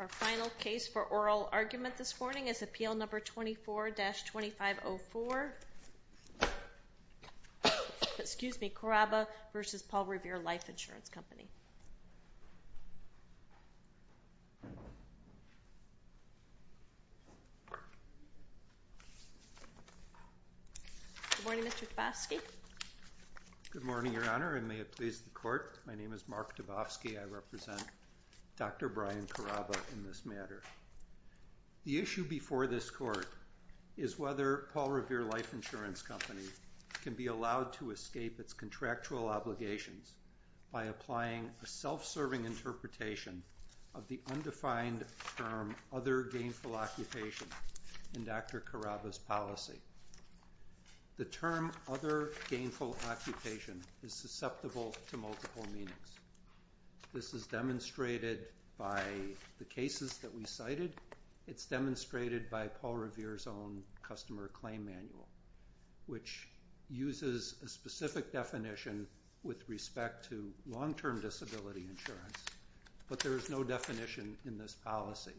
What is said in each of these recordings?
Our final case for oral argument this morning is Appeal No. 24-2504, Caraba v. Paul Revere Life Insurance Company. Good morning, Mr. Dabofsky. Good morning, Your Honor, and may it please the Court. My name is Mark Dabofsky. I represent Dr. Brian Caraba in this matter. The issue before this Court is whether Paul Revere Life Insurance Company can be allowed to escape its contractual obligations by applying a self-serving interpretation of the undefined term other gainful occupation in Dr. Caraba's policy. The term other gainful occupation is susceptible to multiple meanings. This is demonstrated by the cases that we cited. It's demonstrated by Paul Revere's own customer claim manual, which uses a specific definition with respect to long-term disability insurance, but there is no definition in this policy.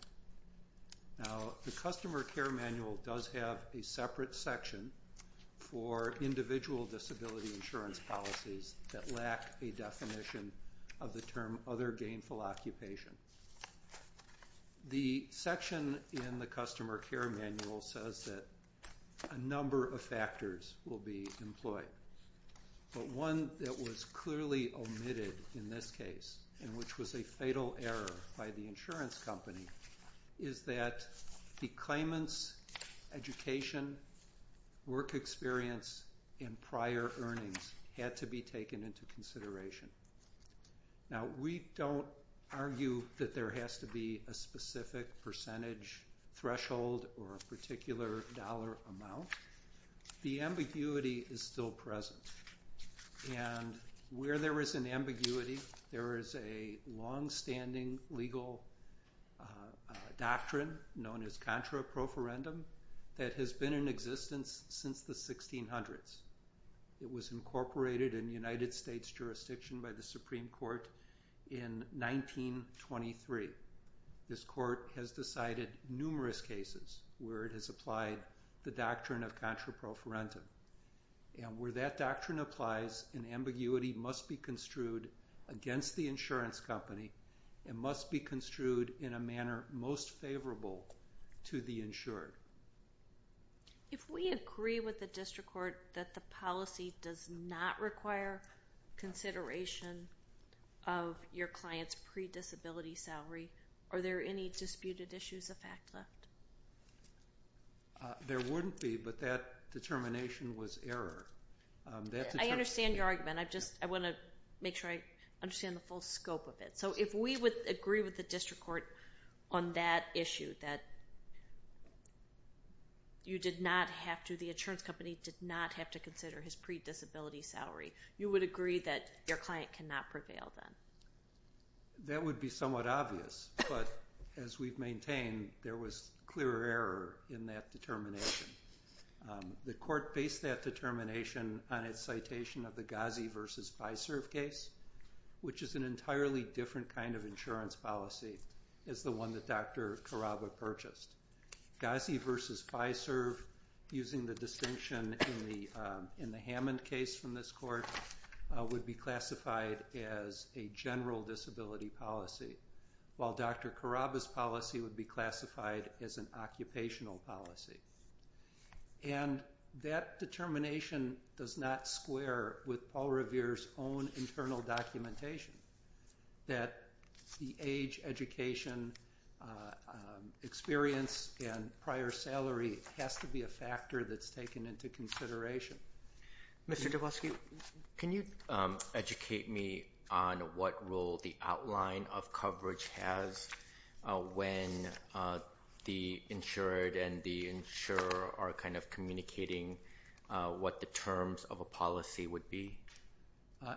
Now, the customer care manual does have a separate section for individual disability insurance policies that lack a definition of the term other gainful occupation. The section in the customer care manual says that a number of factors will be employed, but one that was clearly omitted in this case, and which was a fatal error by the insurance company, is that the claimants' education, work experience, and prior earnings had to be taken into consideration. Now, we don't argue that there has to be a specific percentage threshold or a particular dollar amount. The ambiguity is still present, and where there is an ambiguity, there is a long-standing legal doctrine known as contra-proferendum that has been in existence since the 1600s. It was incorporated in United States jurisdiction by the Supreme Court in 1923. This court has decided numerous cases where it has applied the doctrine of contra-proferendum, and where that doctrine applies, an ambiguity must be construed against the insurance company and must be construed in a manner most favorable to the insured. If we agree with the district court that the policy does not require consideration of your client's pre-disability salary, are there any disputed issues of fact left? There wouldn't be, but that determination was error. I understand your argument. I just want to make sure I understand the full scope of it. So if we would agree with the district court on that issue, that you did not have to, the insurance company did not have to consider his pre-disability salary, you would agree that your client cannot prevail then? That would be somewhat obvious, but as we've maintained, there was clear error in that determination. The court based that determination on its citation of the Gazi v. Biserv case, which is an entirely different kind of insurance policy as the one that Dr. Carraba purchased. Gazi v. Biserv, using the distinction in the Hammond case from this court, would be classified as a general disability policy, while Dr. Carraba's policy would be classified as an occupational policy. And that determination does not square with Paul Revere's own internal documentation, that the age, education, experience, and prior salary has to be a factor that's taken into consideration. Mr. Dubosky, can you educate me on what role the outline of coverage has when the insured and the insurer are kind of communicating what the terms of a policy would be?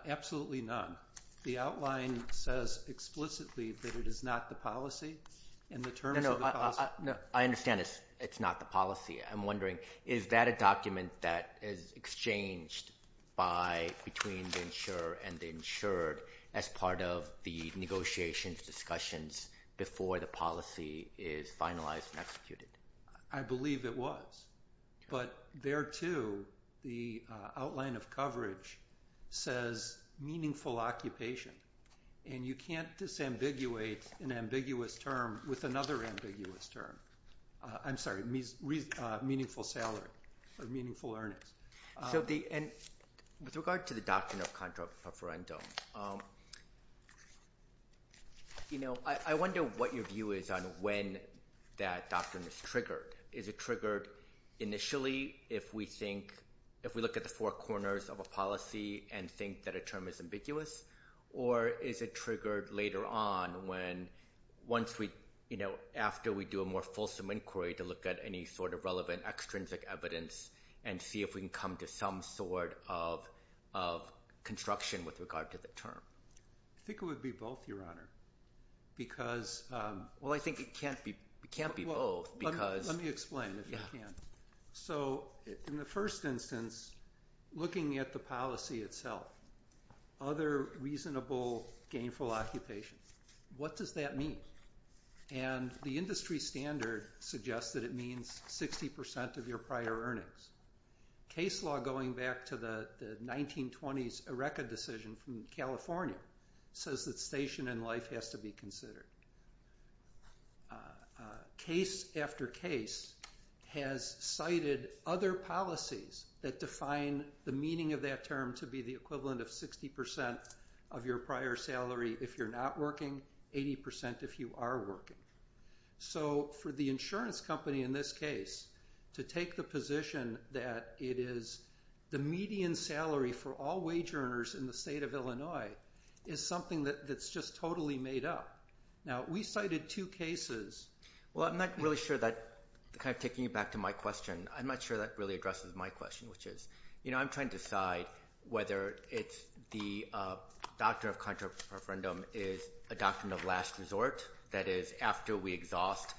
Absolutely not. The outline says explicitly that it is not the policy, and the terms of the policy... No, no, I understand it's not the policy. I'm wondering, is that a document that is exchanged between the insurer and the insured as part of the negotiations, discussions, before the policy is finalized and executed? I believe it was. But there, too, the outline of coverage says meaningful occupation. And you can't disambiguate an ambiguous term with another ambiguous term. I'm sorry, meaningful salary or meaningful earnings. With regard to the doctrine of contra preferendum, I wonder what your view is on when that doctrine is triggered. Is it triggered initially if we look at the four corners of a policy and think that a term is ambiguous? Or is it triggered later on when, after we do a more fulsome inquiry to look at any sort of relevant extrinsic evidence and see if we can come to some sort of construction with regard to the term? I think it would be both, Your Honor, because... Well, I think it can't be both because... Let me explain, if I can. So, in the first instance, looking at the policy itself, other reasonable gainful occupations, what does that mean? And the industry standard suggests that it means 60% of your prior earnings. Case law, going back to the 1920s ERECA decision from California, says that station in life has to be considered. Case after case has cited other policies that define the meaning of that term to be the equivalent of 60% of your prior salary if you're not working, 80% if you are working. So, for the insurance company in this case, to take the position that it is the median salary for all wage earners in the state of Illinois is something that's just totally made up. Now, we cited two cases... Well, I'm not really sure that... Kind of taking it back to my question, I'm not sure that really addresses my question, which is... You know, I'm trying to decide whether it's the doctrine of contract preferendum is a doctrine of last resort, that is, after we exhaust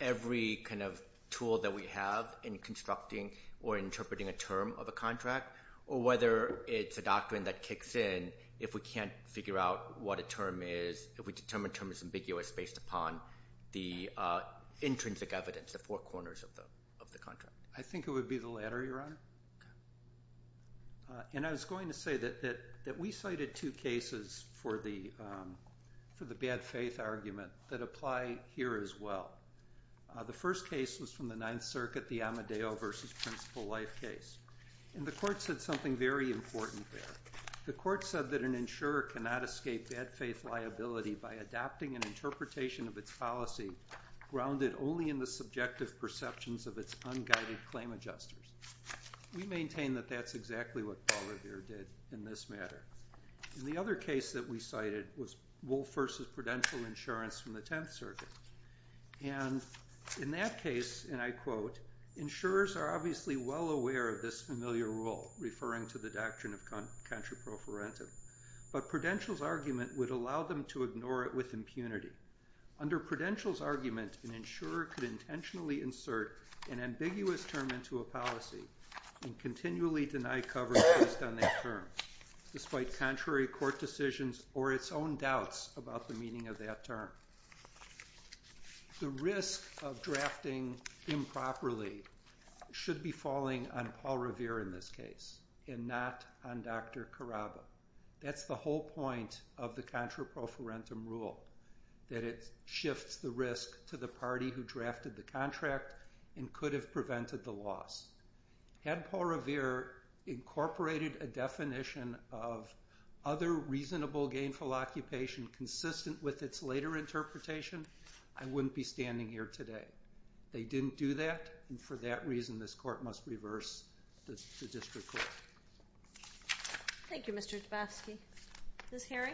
every kind of tool that we have in constructing or interpreting a term of a contract, or whether it's a doctrine that kicks in if we can't figure out what a term is, if we determine a term is ambiguous based upon the intrinsic evidence, the four corners of the contract. I think it would be the latter, Your Honor. Okay. And I was going to say that we cited two cases for the bad faith argument that apply here as well. The first case was from the Ninth Circuit, the Amadeo v. Principal Life case. And the court said something very important there. The court said that an insurer cannot escape bad faith liability by adopting an interpretation of its policy grounded only in the subjective perceptions of its unguided claim adjusters. We maintain that that's exactly what Paul Revere did in this matter. And the other case that we cited was Wolf v. Prudential Insurance from the Tenth Circuit. And in that case, and I quote, insurers are obviously well aware of this familiar rule referring to the doctrine of contract preferendum, but Prudential's argument would allow them to ignore it with impunity. Under Prudential's argument, an insurer could intentionally insert an ambiguous term into a policy and continually deny coverage based on that term, despite contrary court decisions or its own doubts about the meaning of that term. The risk of drafting improperly should be falling on Paul Revere in this case and not on Dr. Carraba. That's the whole point of the contract preferendum rule. That it shifts the risk to the party who drafted the contract and could have prevented the loss. Had Paul Revere incorporated a definition of other reasonable gainful occupation consistent with its later interpretation, I wouldn't be standing here today. They didn't do that, and for that reason this court must reverse the district court. Thank you, Mr. Dabowski. Ms. Herring?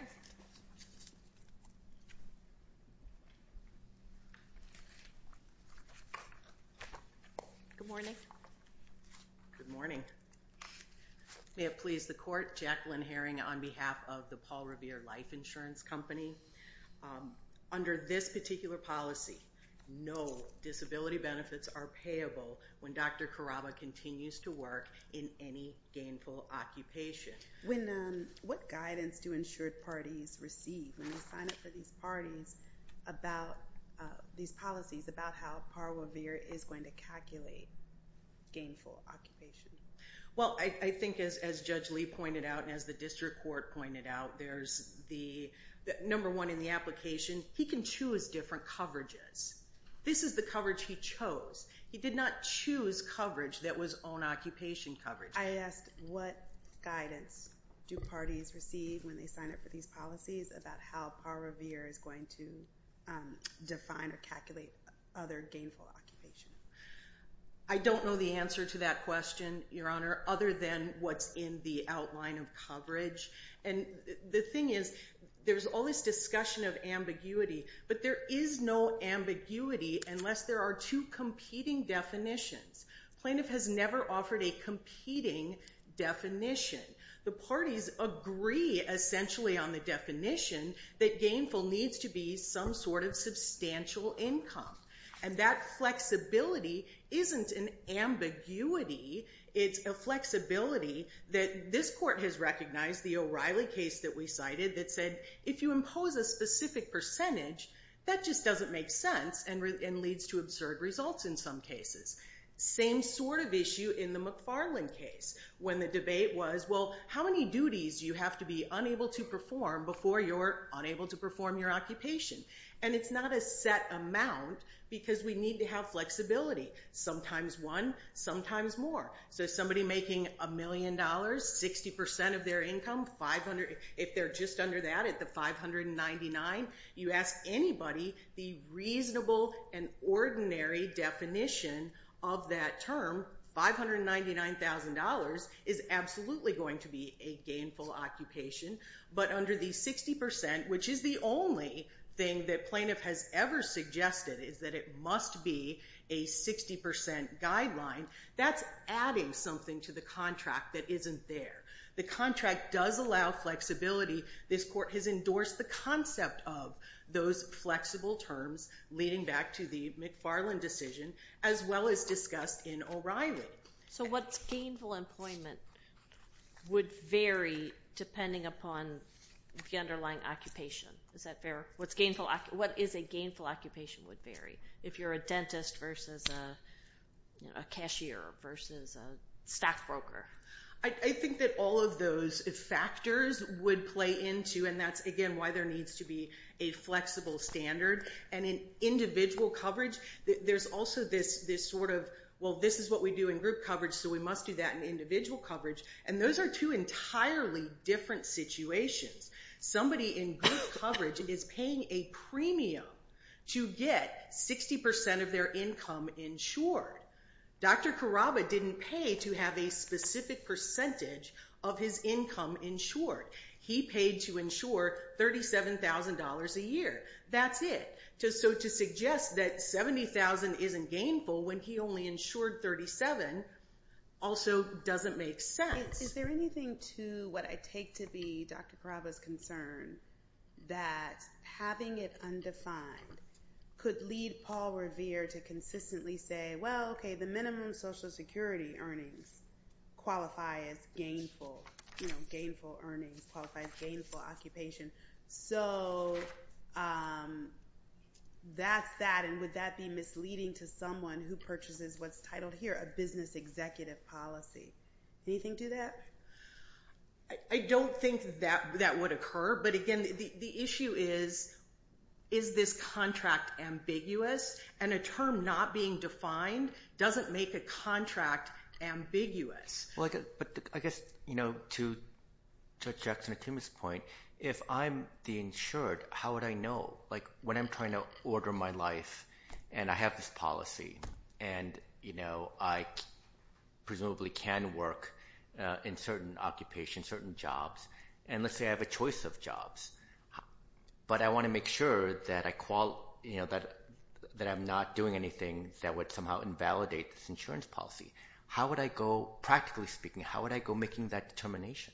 Good morning. Good morning. May it please the court, Jacqueline Herring on behalf of the Paul Revere Life Insurance Company. Under this particular policy, no disability benefits are payable when Dr. Carraba continues to work in any gainful occupation. What guidance do insured parties receive when they sign up for these parties? About these policies, about how Paul Revere is going to calculate gainful occupation? Well, I think as Judge Lee pointed out and as the district court pointed out, there's the number one in the application. He can choose different coverages. This is the coverage he chose. He did not choose coverage that was own occupation coverage. I asked what guidance do parties receive when they sign up for these policies about how Paul Revere is going to define or calculate other gainful occupation? I don't know the answer to that question, Your Honor, other than what's in the outline of coverage. And the thing is, there's all this discussion of ambiguity, but there is no ambiguity unless there are two competing definitions. Plaintiff has never offered a competing definition. The parties agree essentially on the definition that gainful needs to be some sort of substantial income. And that flexibility isn't an ambiguity. It's a flexibility that this court has recognized, the O'Reilly case that we cited that said, if you impose a specific percentage, that just doesn't make sense and leads to absurd results in some cases. Same sort of issue in the McFarland case when the debate was, well, how many duties do you have to be unable to perform before you're unable to perform your occupation? And it's not a set amount because we need to have flexibility. Sometimes one, sometimes more. So somebody making a million dollars, 60% of their income, if they're just under that at the 599, you ask anybody, the reasonable and ordinary definition of that term, $599,000, is absolutely going to be a gainful occupation. But under the 60%, which is the only thing that plaintiff has ever suggested is that it must be a 60% guideline, that's adding something to the contract that isn't there. The contract does allow flexibility. This court has endorsed the concept of those flexible terms leading back to the McFarland decision, as well as discussed in O'Reilly. So what's gainful employment would vary depending upon the underlying occupation. Is that fair? What is a gainful occupation would vary if you're a dentist versus a cashier versus a stockbroker. I think that all of those factors would play into, and that's again why there needs to be a flexible standard. And in individual coverage, there's also this sort of, well, this is what we do in group coverage, so we must do that in individual coverage. And those are two entirely different situations. Somebody in group coverage is paying a premium to get 60% of their income insured. Dr. Carraba didn't pay to have a specific percentage of his income insured. He paid to insure $37,000 a year. That's it. So to suggest that $70,000 isn't gainful when he only insured $37,000 also doesn't make sense. Is there anything to what I take to be Dr. Carraba's concern that having it undefined could lead Paul Revere to consistently say, well, okay, the minimum Social Security earnings qualify as gainful. You know, gainful earnings qualify as gainful occupation. So that's that, and would that be misleading to someone who purchases what's titled here a business executive policy? Anything to that? I don't think that that would occur. But again, the issue is, is this contract ambiguous? And a term not being defined doesn't make a contract ambiguous. Well, I guess, you know, to Judge Jackson and Tim's point, if I'm the insured, how would I know? Like when I'm trying to order my life and I have this policy, and, you know, I presumably can work in certain occupations, certain jobs, and let's say I have a choice of jobs. But I want to make sure that I'm not doing anything that would somehow invalidate this insurance policy. How would I go, practically speaking, how would I go making that determination?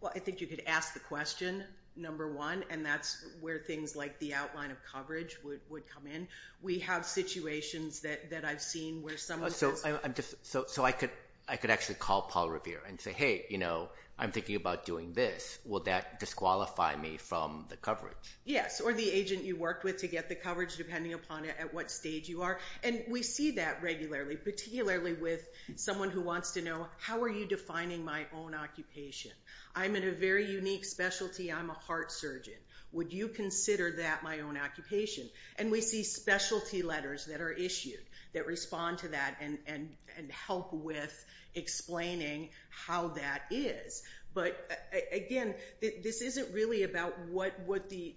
Well, I think you could ask the question, number one, and that's where things like the outline of coverage would come in. We have situations that I've seen where someone says... So I could actually call Paul Revere and say, hey, you know, I'm thinking about doing this. Will that disqualify me from the coverage? Yes, or the agent you worked with to get the coverage, depending upon at what stage you are. And we see that regularly, particularly with someone who wants to know, how are you defining my own occupation? I'm in a very unique specialty, I'm a heart surgeon. Would you consider that my own occupation? And we see specialty letters that are issued that respond to that and help with explaining how that is. But, again, this isn't really about what the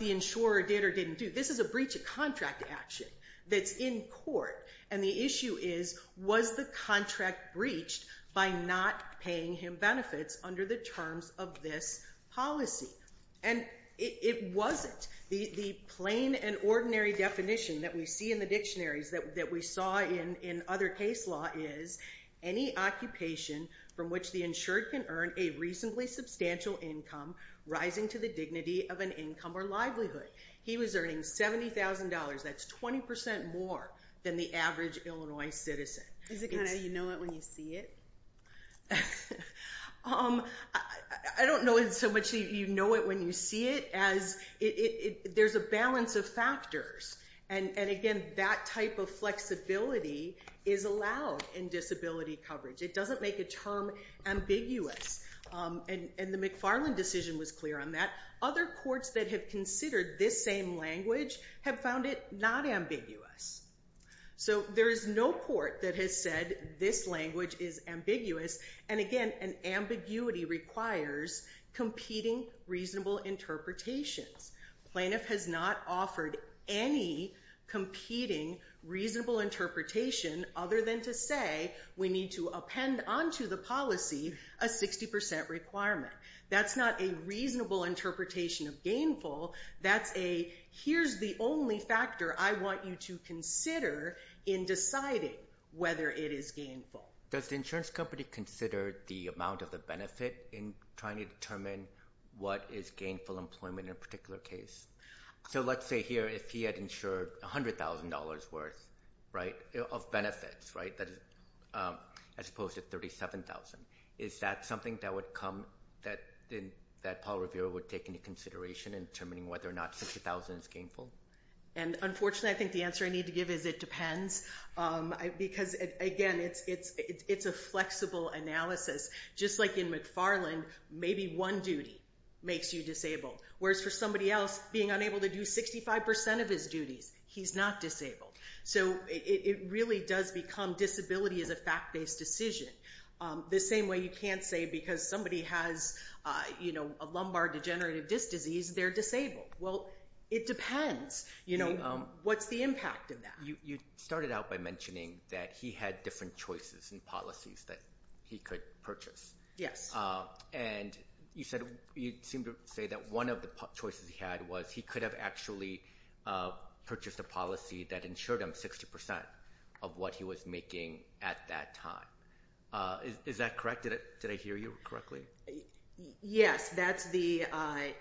insurer did or didn't do. This is a breach of contract action that's in court. And the issue is, was the contract breached by not paying him benefits under the terms of this policy? And it wasn't. The plain and ordinary definition that we see in the dictionaries that we saw in other case law is any occupation from which the insured can earn a reasonably substantial income rising to the dignity of an income or livelihood. He was earning $70,000. That's 20% more than the average Illinois citizen. Is it kind of, you know it when you see it? I don't know it so much that you know it when you see it as there's a balance of factors. And, again, that type of flexibility is allowed in disability coverage. It doesn't make a term ambiguous. And the McFarland decision was clear on that. Other courts that have considered this same language have found it not ambiguous. So there is no court that has said this language is ambiguous. And, again, an ambiguity requires competing reasonable interpretations. Plaintiff has not offered any competing reasonable interpretation other than to say we need to append onto the policy a 60% requirement. That's not a reasonable interpretation of gainful. That's a here's the only factor I want you to consider in deciding whether it is gainful. Does the insurance company consider the amount of the benefit in trying to determine what is gainful employment in a particular case? So let's say here if he had insured $100,000 worth of benefits as opposed to $37,000. Is that something that Paul Revere would take into consideration in determining whether or not $60,000 is gainful? And, unfortunately, I think the answer I need to give is it depends. Because, again, it's a flexible analysis. Just like in McFarland, maybe one duty makes you disabled. Whereas for somebody else, being unable to do 65% of his duties, he's not disabled. So it really does become disability as a fact-based decision. The same way you can't say because somebody has a lumbar degenerative disc disease they're disabled. Well, it depends. What's the impact of that? You started out by mentioning that he had different choices and policies that he could purchase. Yes. And you seemed to say that one of the choices he had was he could have actually purchased a policy that insured him 60% of what he was making at that time. Is that correct? Did I hear you correctly? Yes. That's the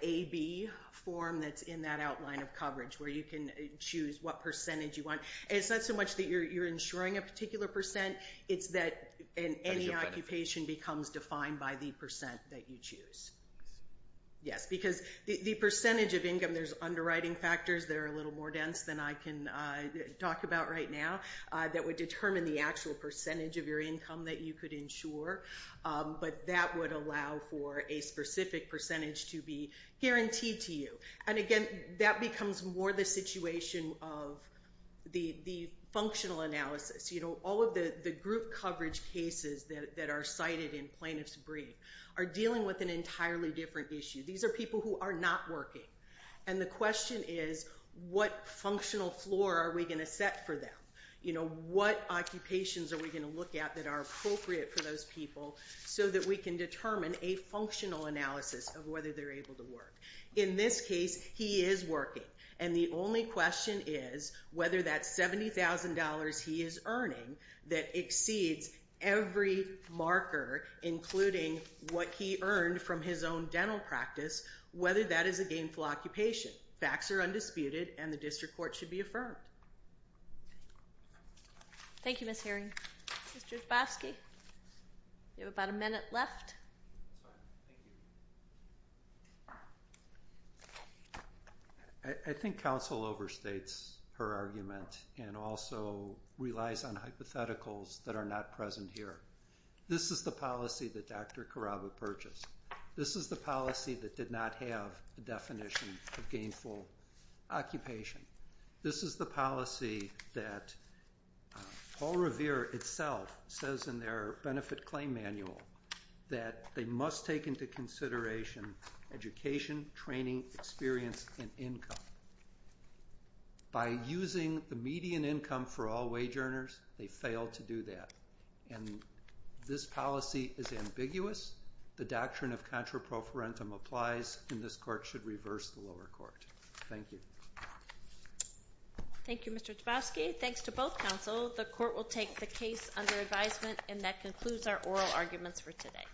AB form that's in that outline of coverage where you can choose what percentage you want. It's not so much that you're insuring a particular percent. It's that any occupation becomes defined by the percent that you choose. Yes. Because the percentage of income, there's underwriting factors that are a little more dense than I can talk about right now that would determine the actual percentage of your income that you could insure. But that would allow for a specific percentage to be guaranteed to you. And again, that becomes more the situation of the functional analysis. All of the group coverage cases that are cited in plaintiff's brief are dealing with an entirely different issue. These are people who are not working. And the question is, what functional floor are we going to set for them? What occupations are we going to look at that are appropriate for those people so that we can determine a functional analysis of whether they're able to work? In this case, he is working. And the only question is whether that $70,000 he is earning that exceeds every marker, including what he earned from his own dental practice, whether that is a gainful occupation. Facts are undisputed, and the district court should be affirmed. Thank you, Ms. Herring. Mr. Hrabowski, you have about a minute left. I think counsel overstates her argument and also relies on hypotheticals that are not present here. This is the policy that Dr. Carraba purchased. This is the policy that did not have the definition of gainful occupation. This is the policy that Paul Revere itself says in their benefit claim manual that they must take into consideration education, training, experience, and income. By using the median income for all wage earners, they failed to do that. And this policy is ambiguous. The doctrine of contraprofarentum applies, and this court should reverse the lower court. Thank you. Thank you, Mr. Hrabowski. Thanks to both counsel. The court will take the case under advisement, and that concludes our oral arguments for today.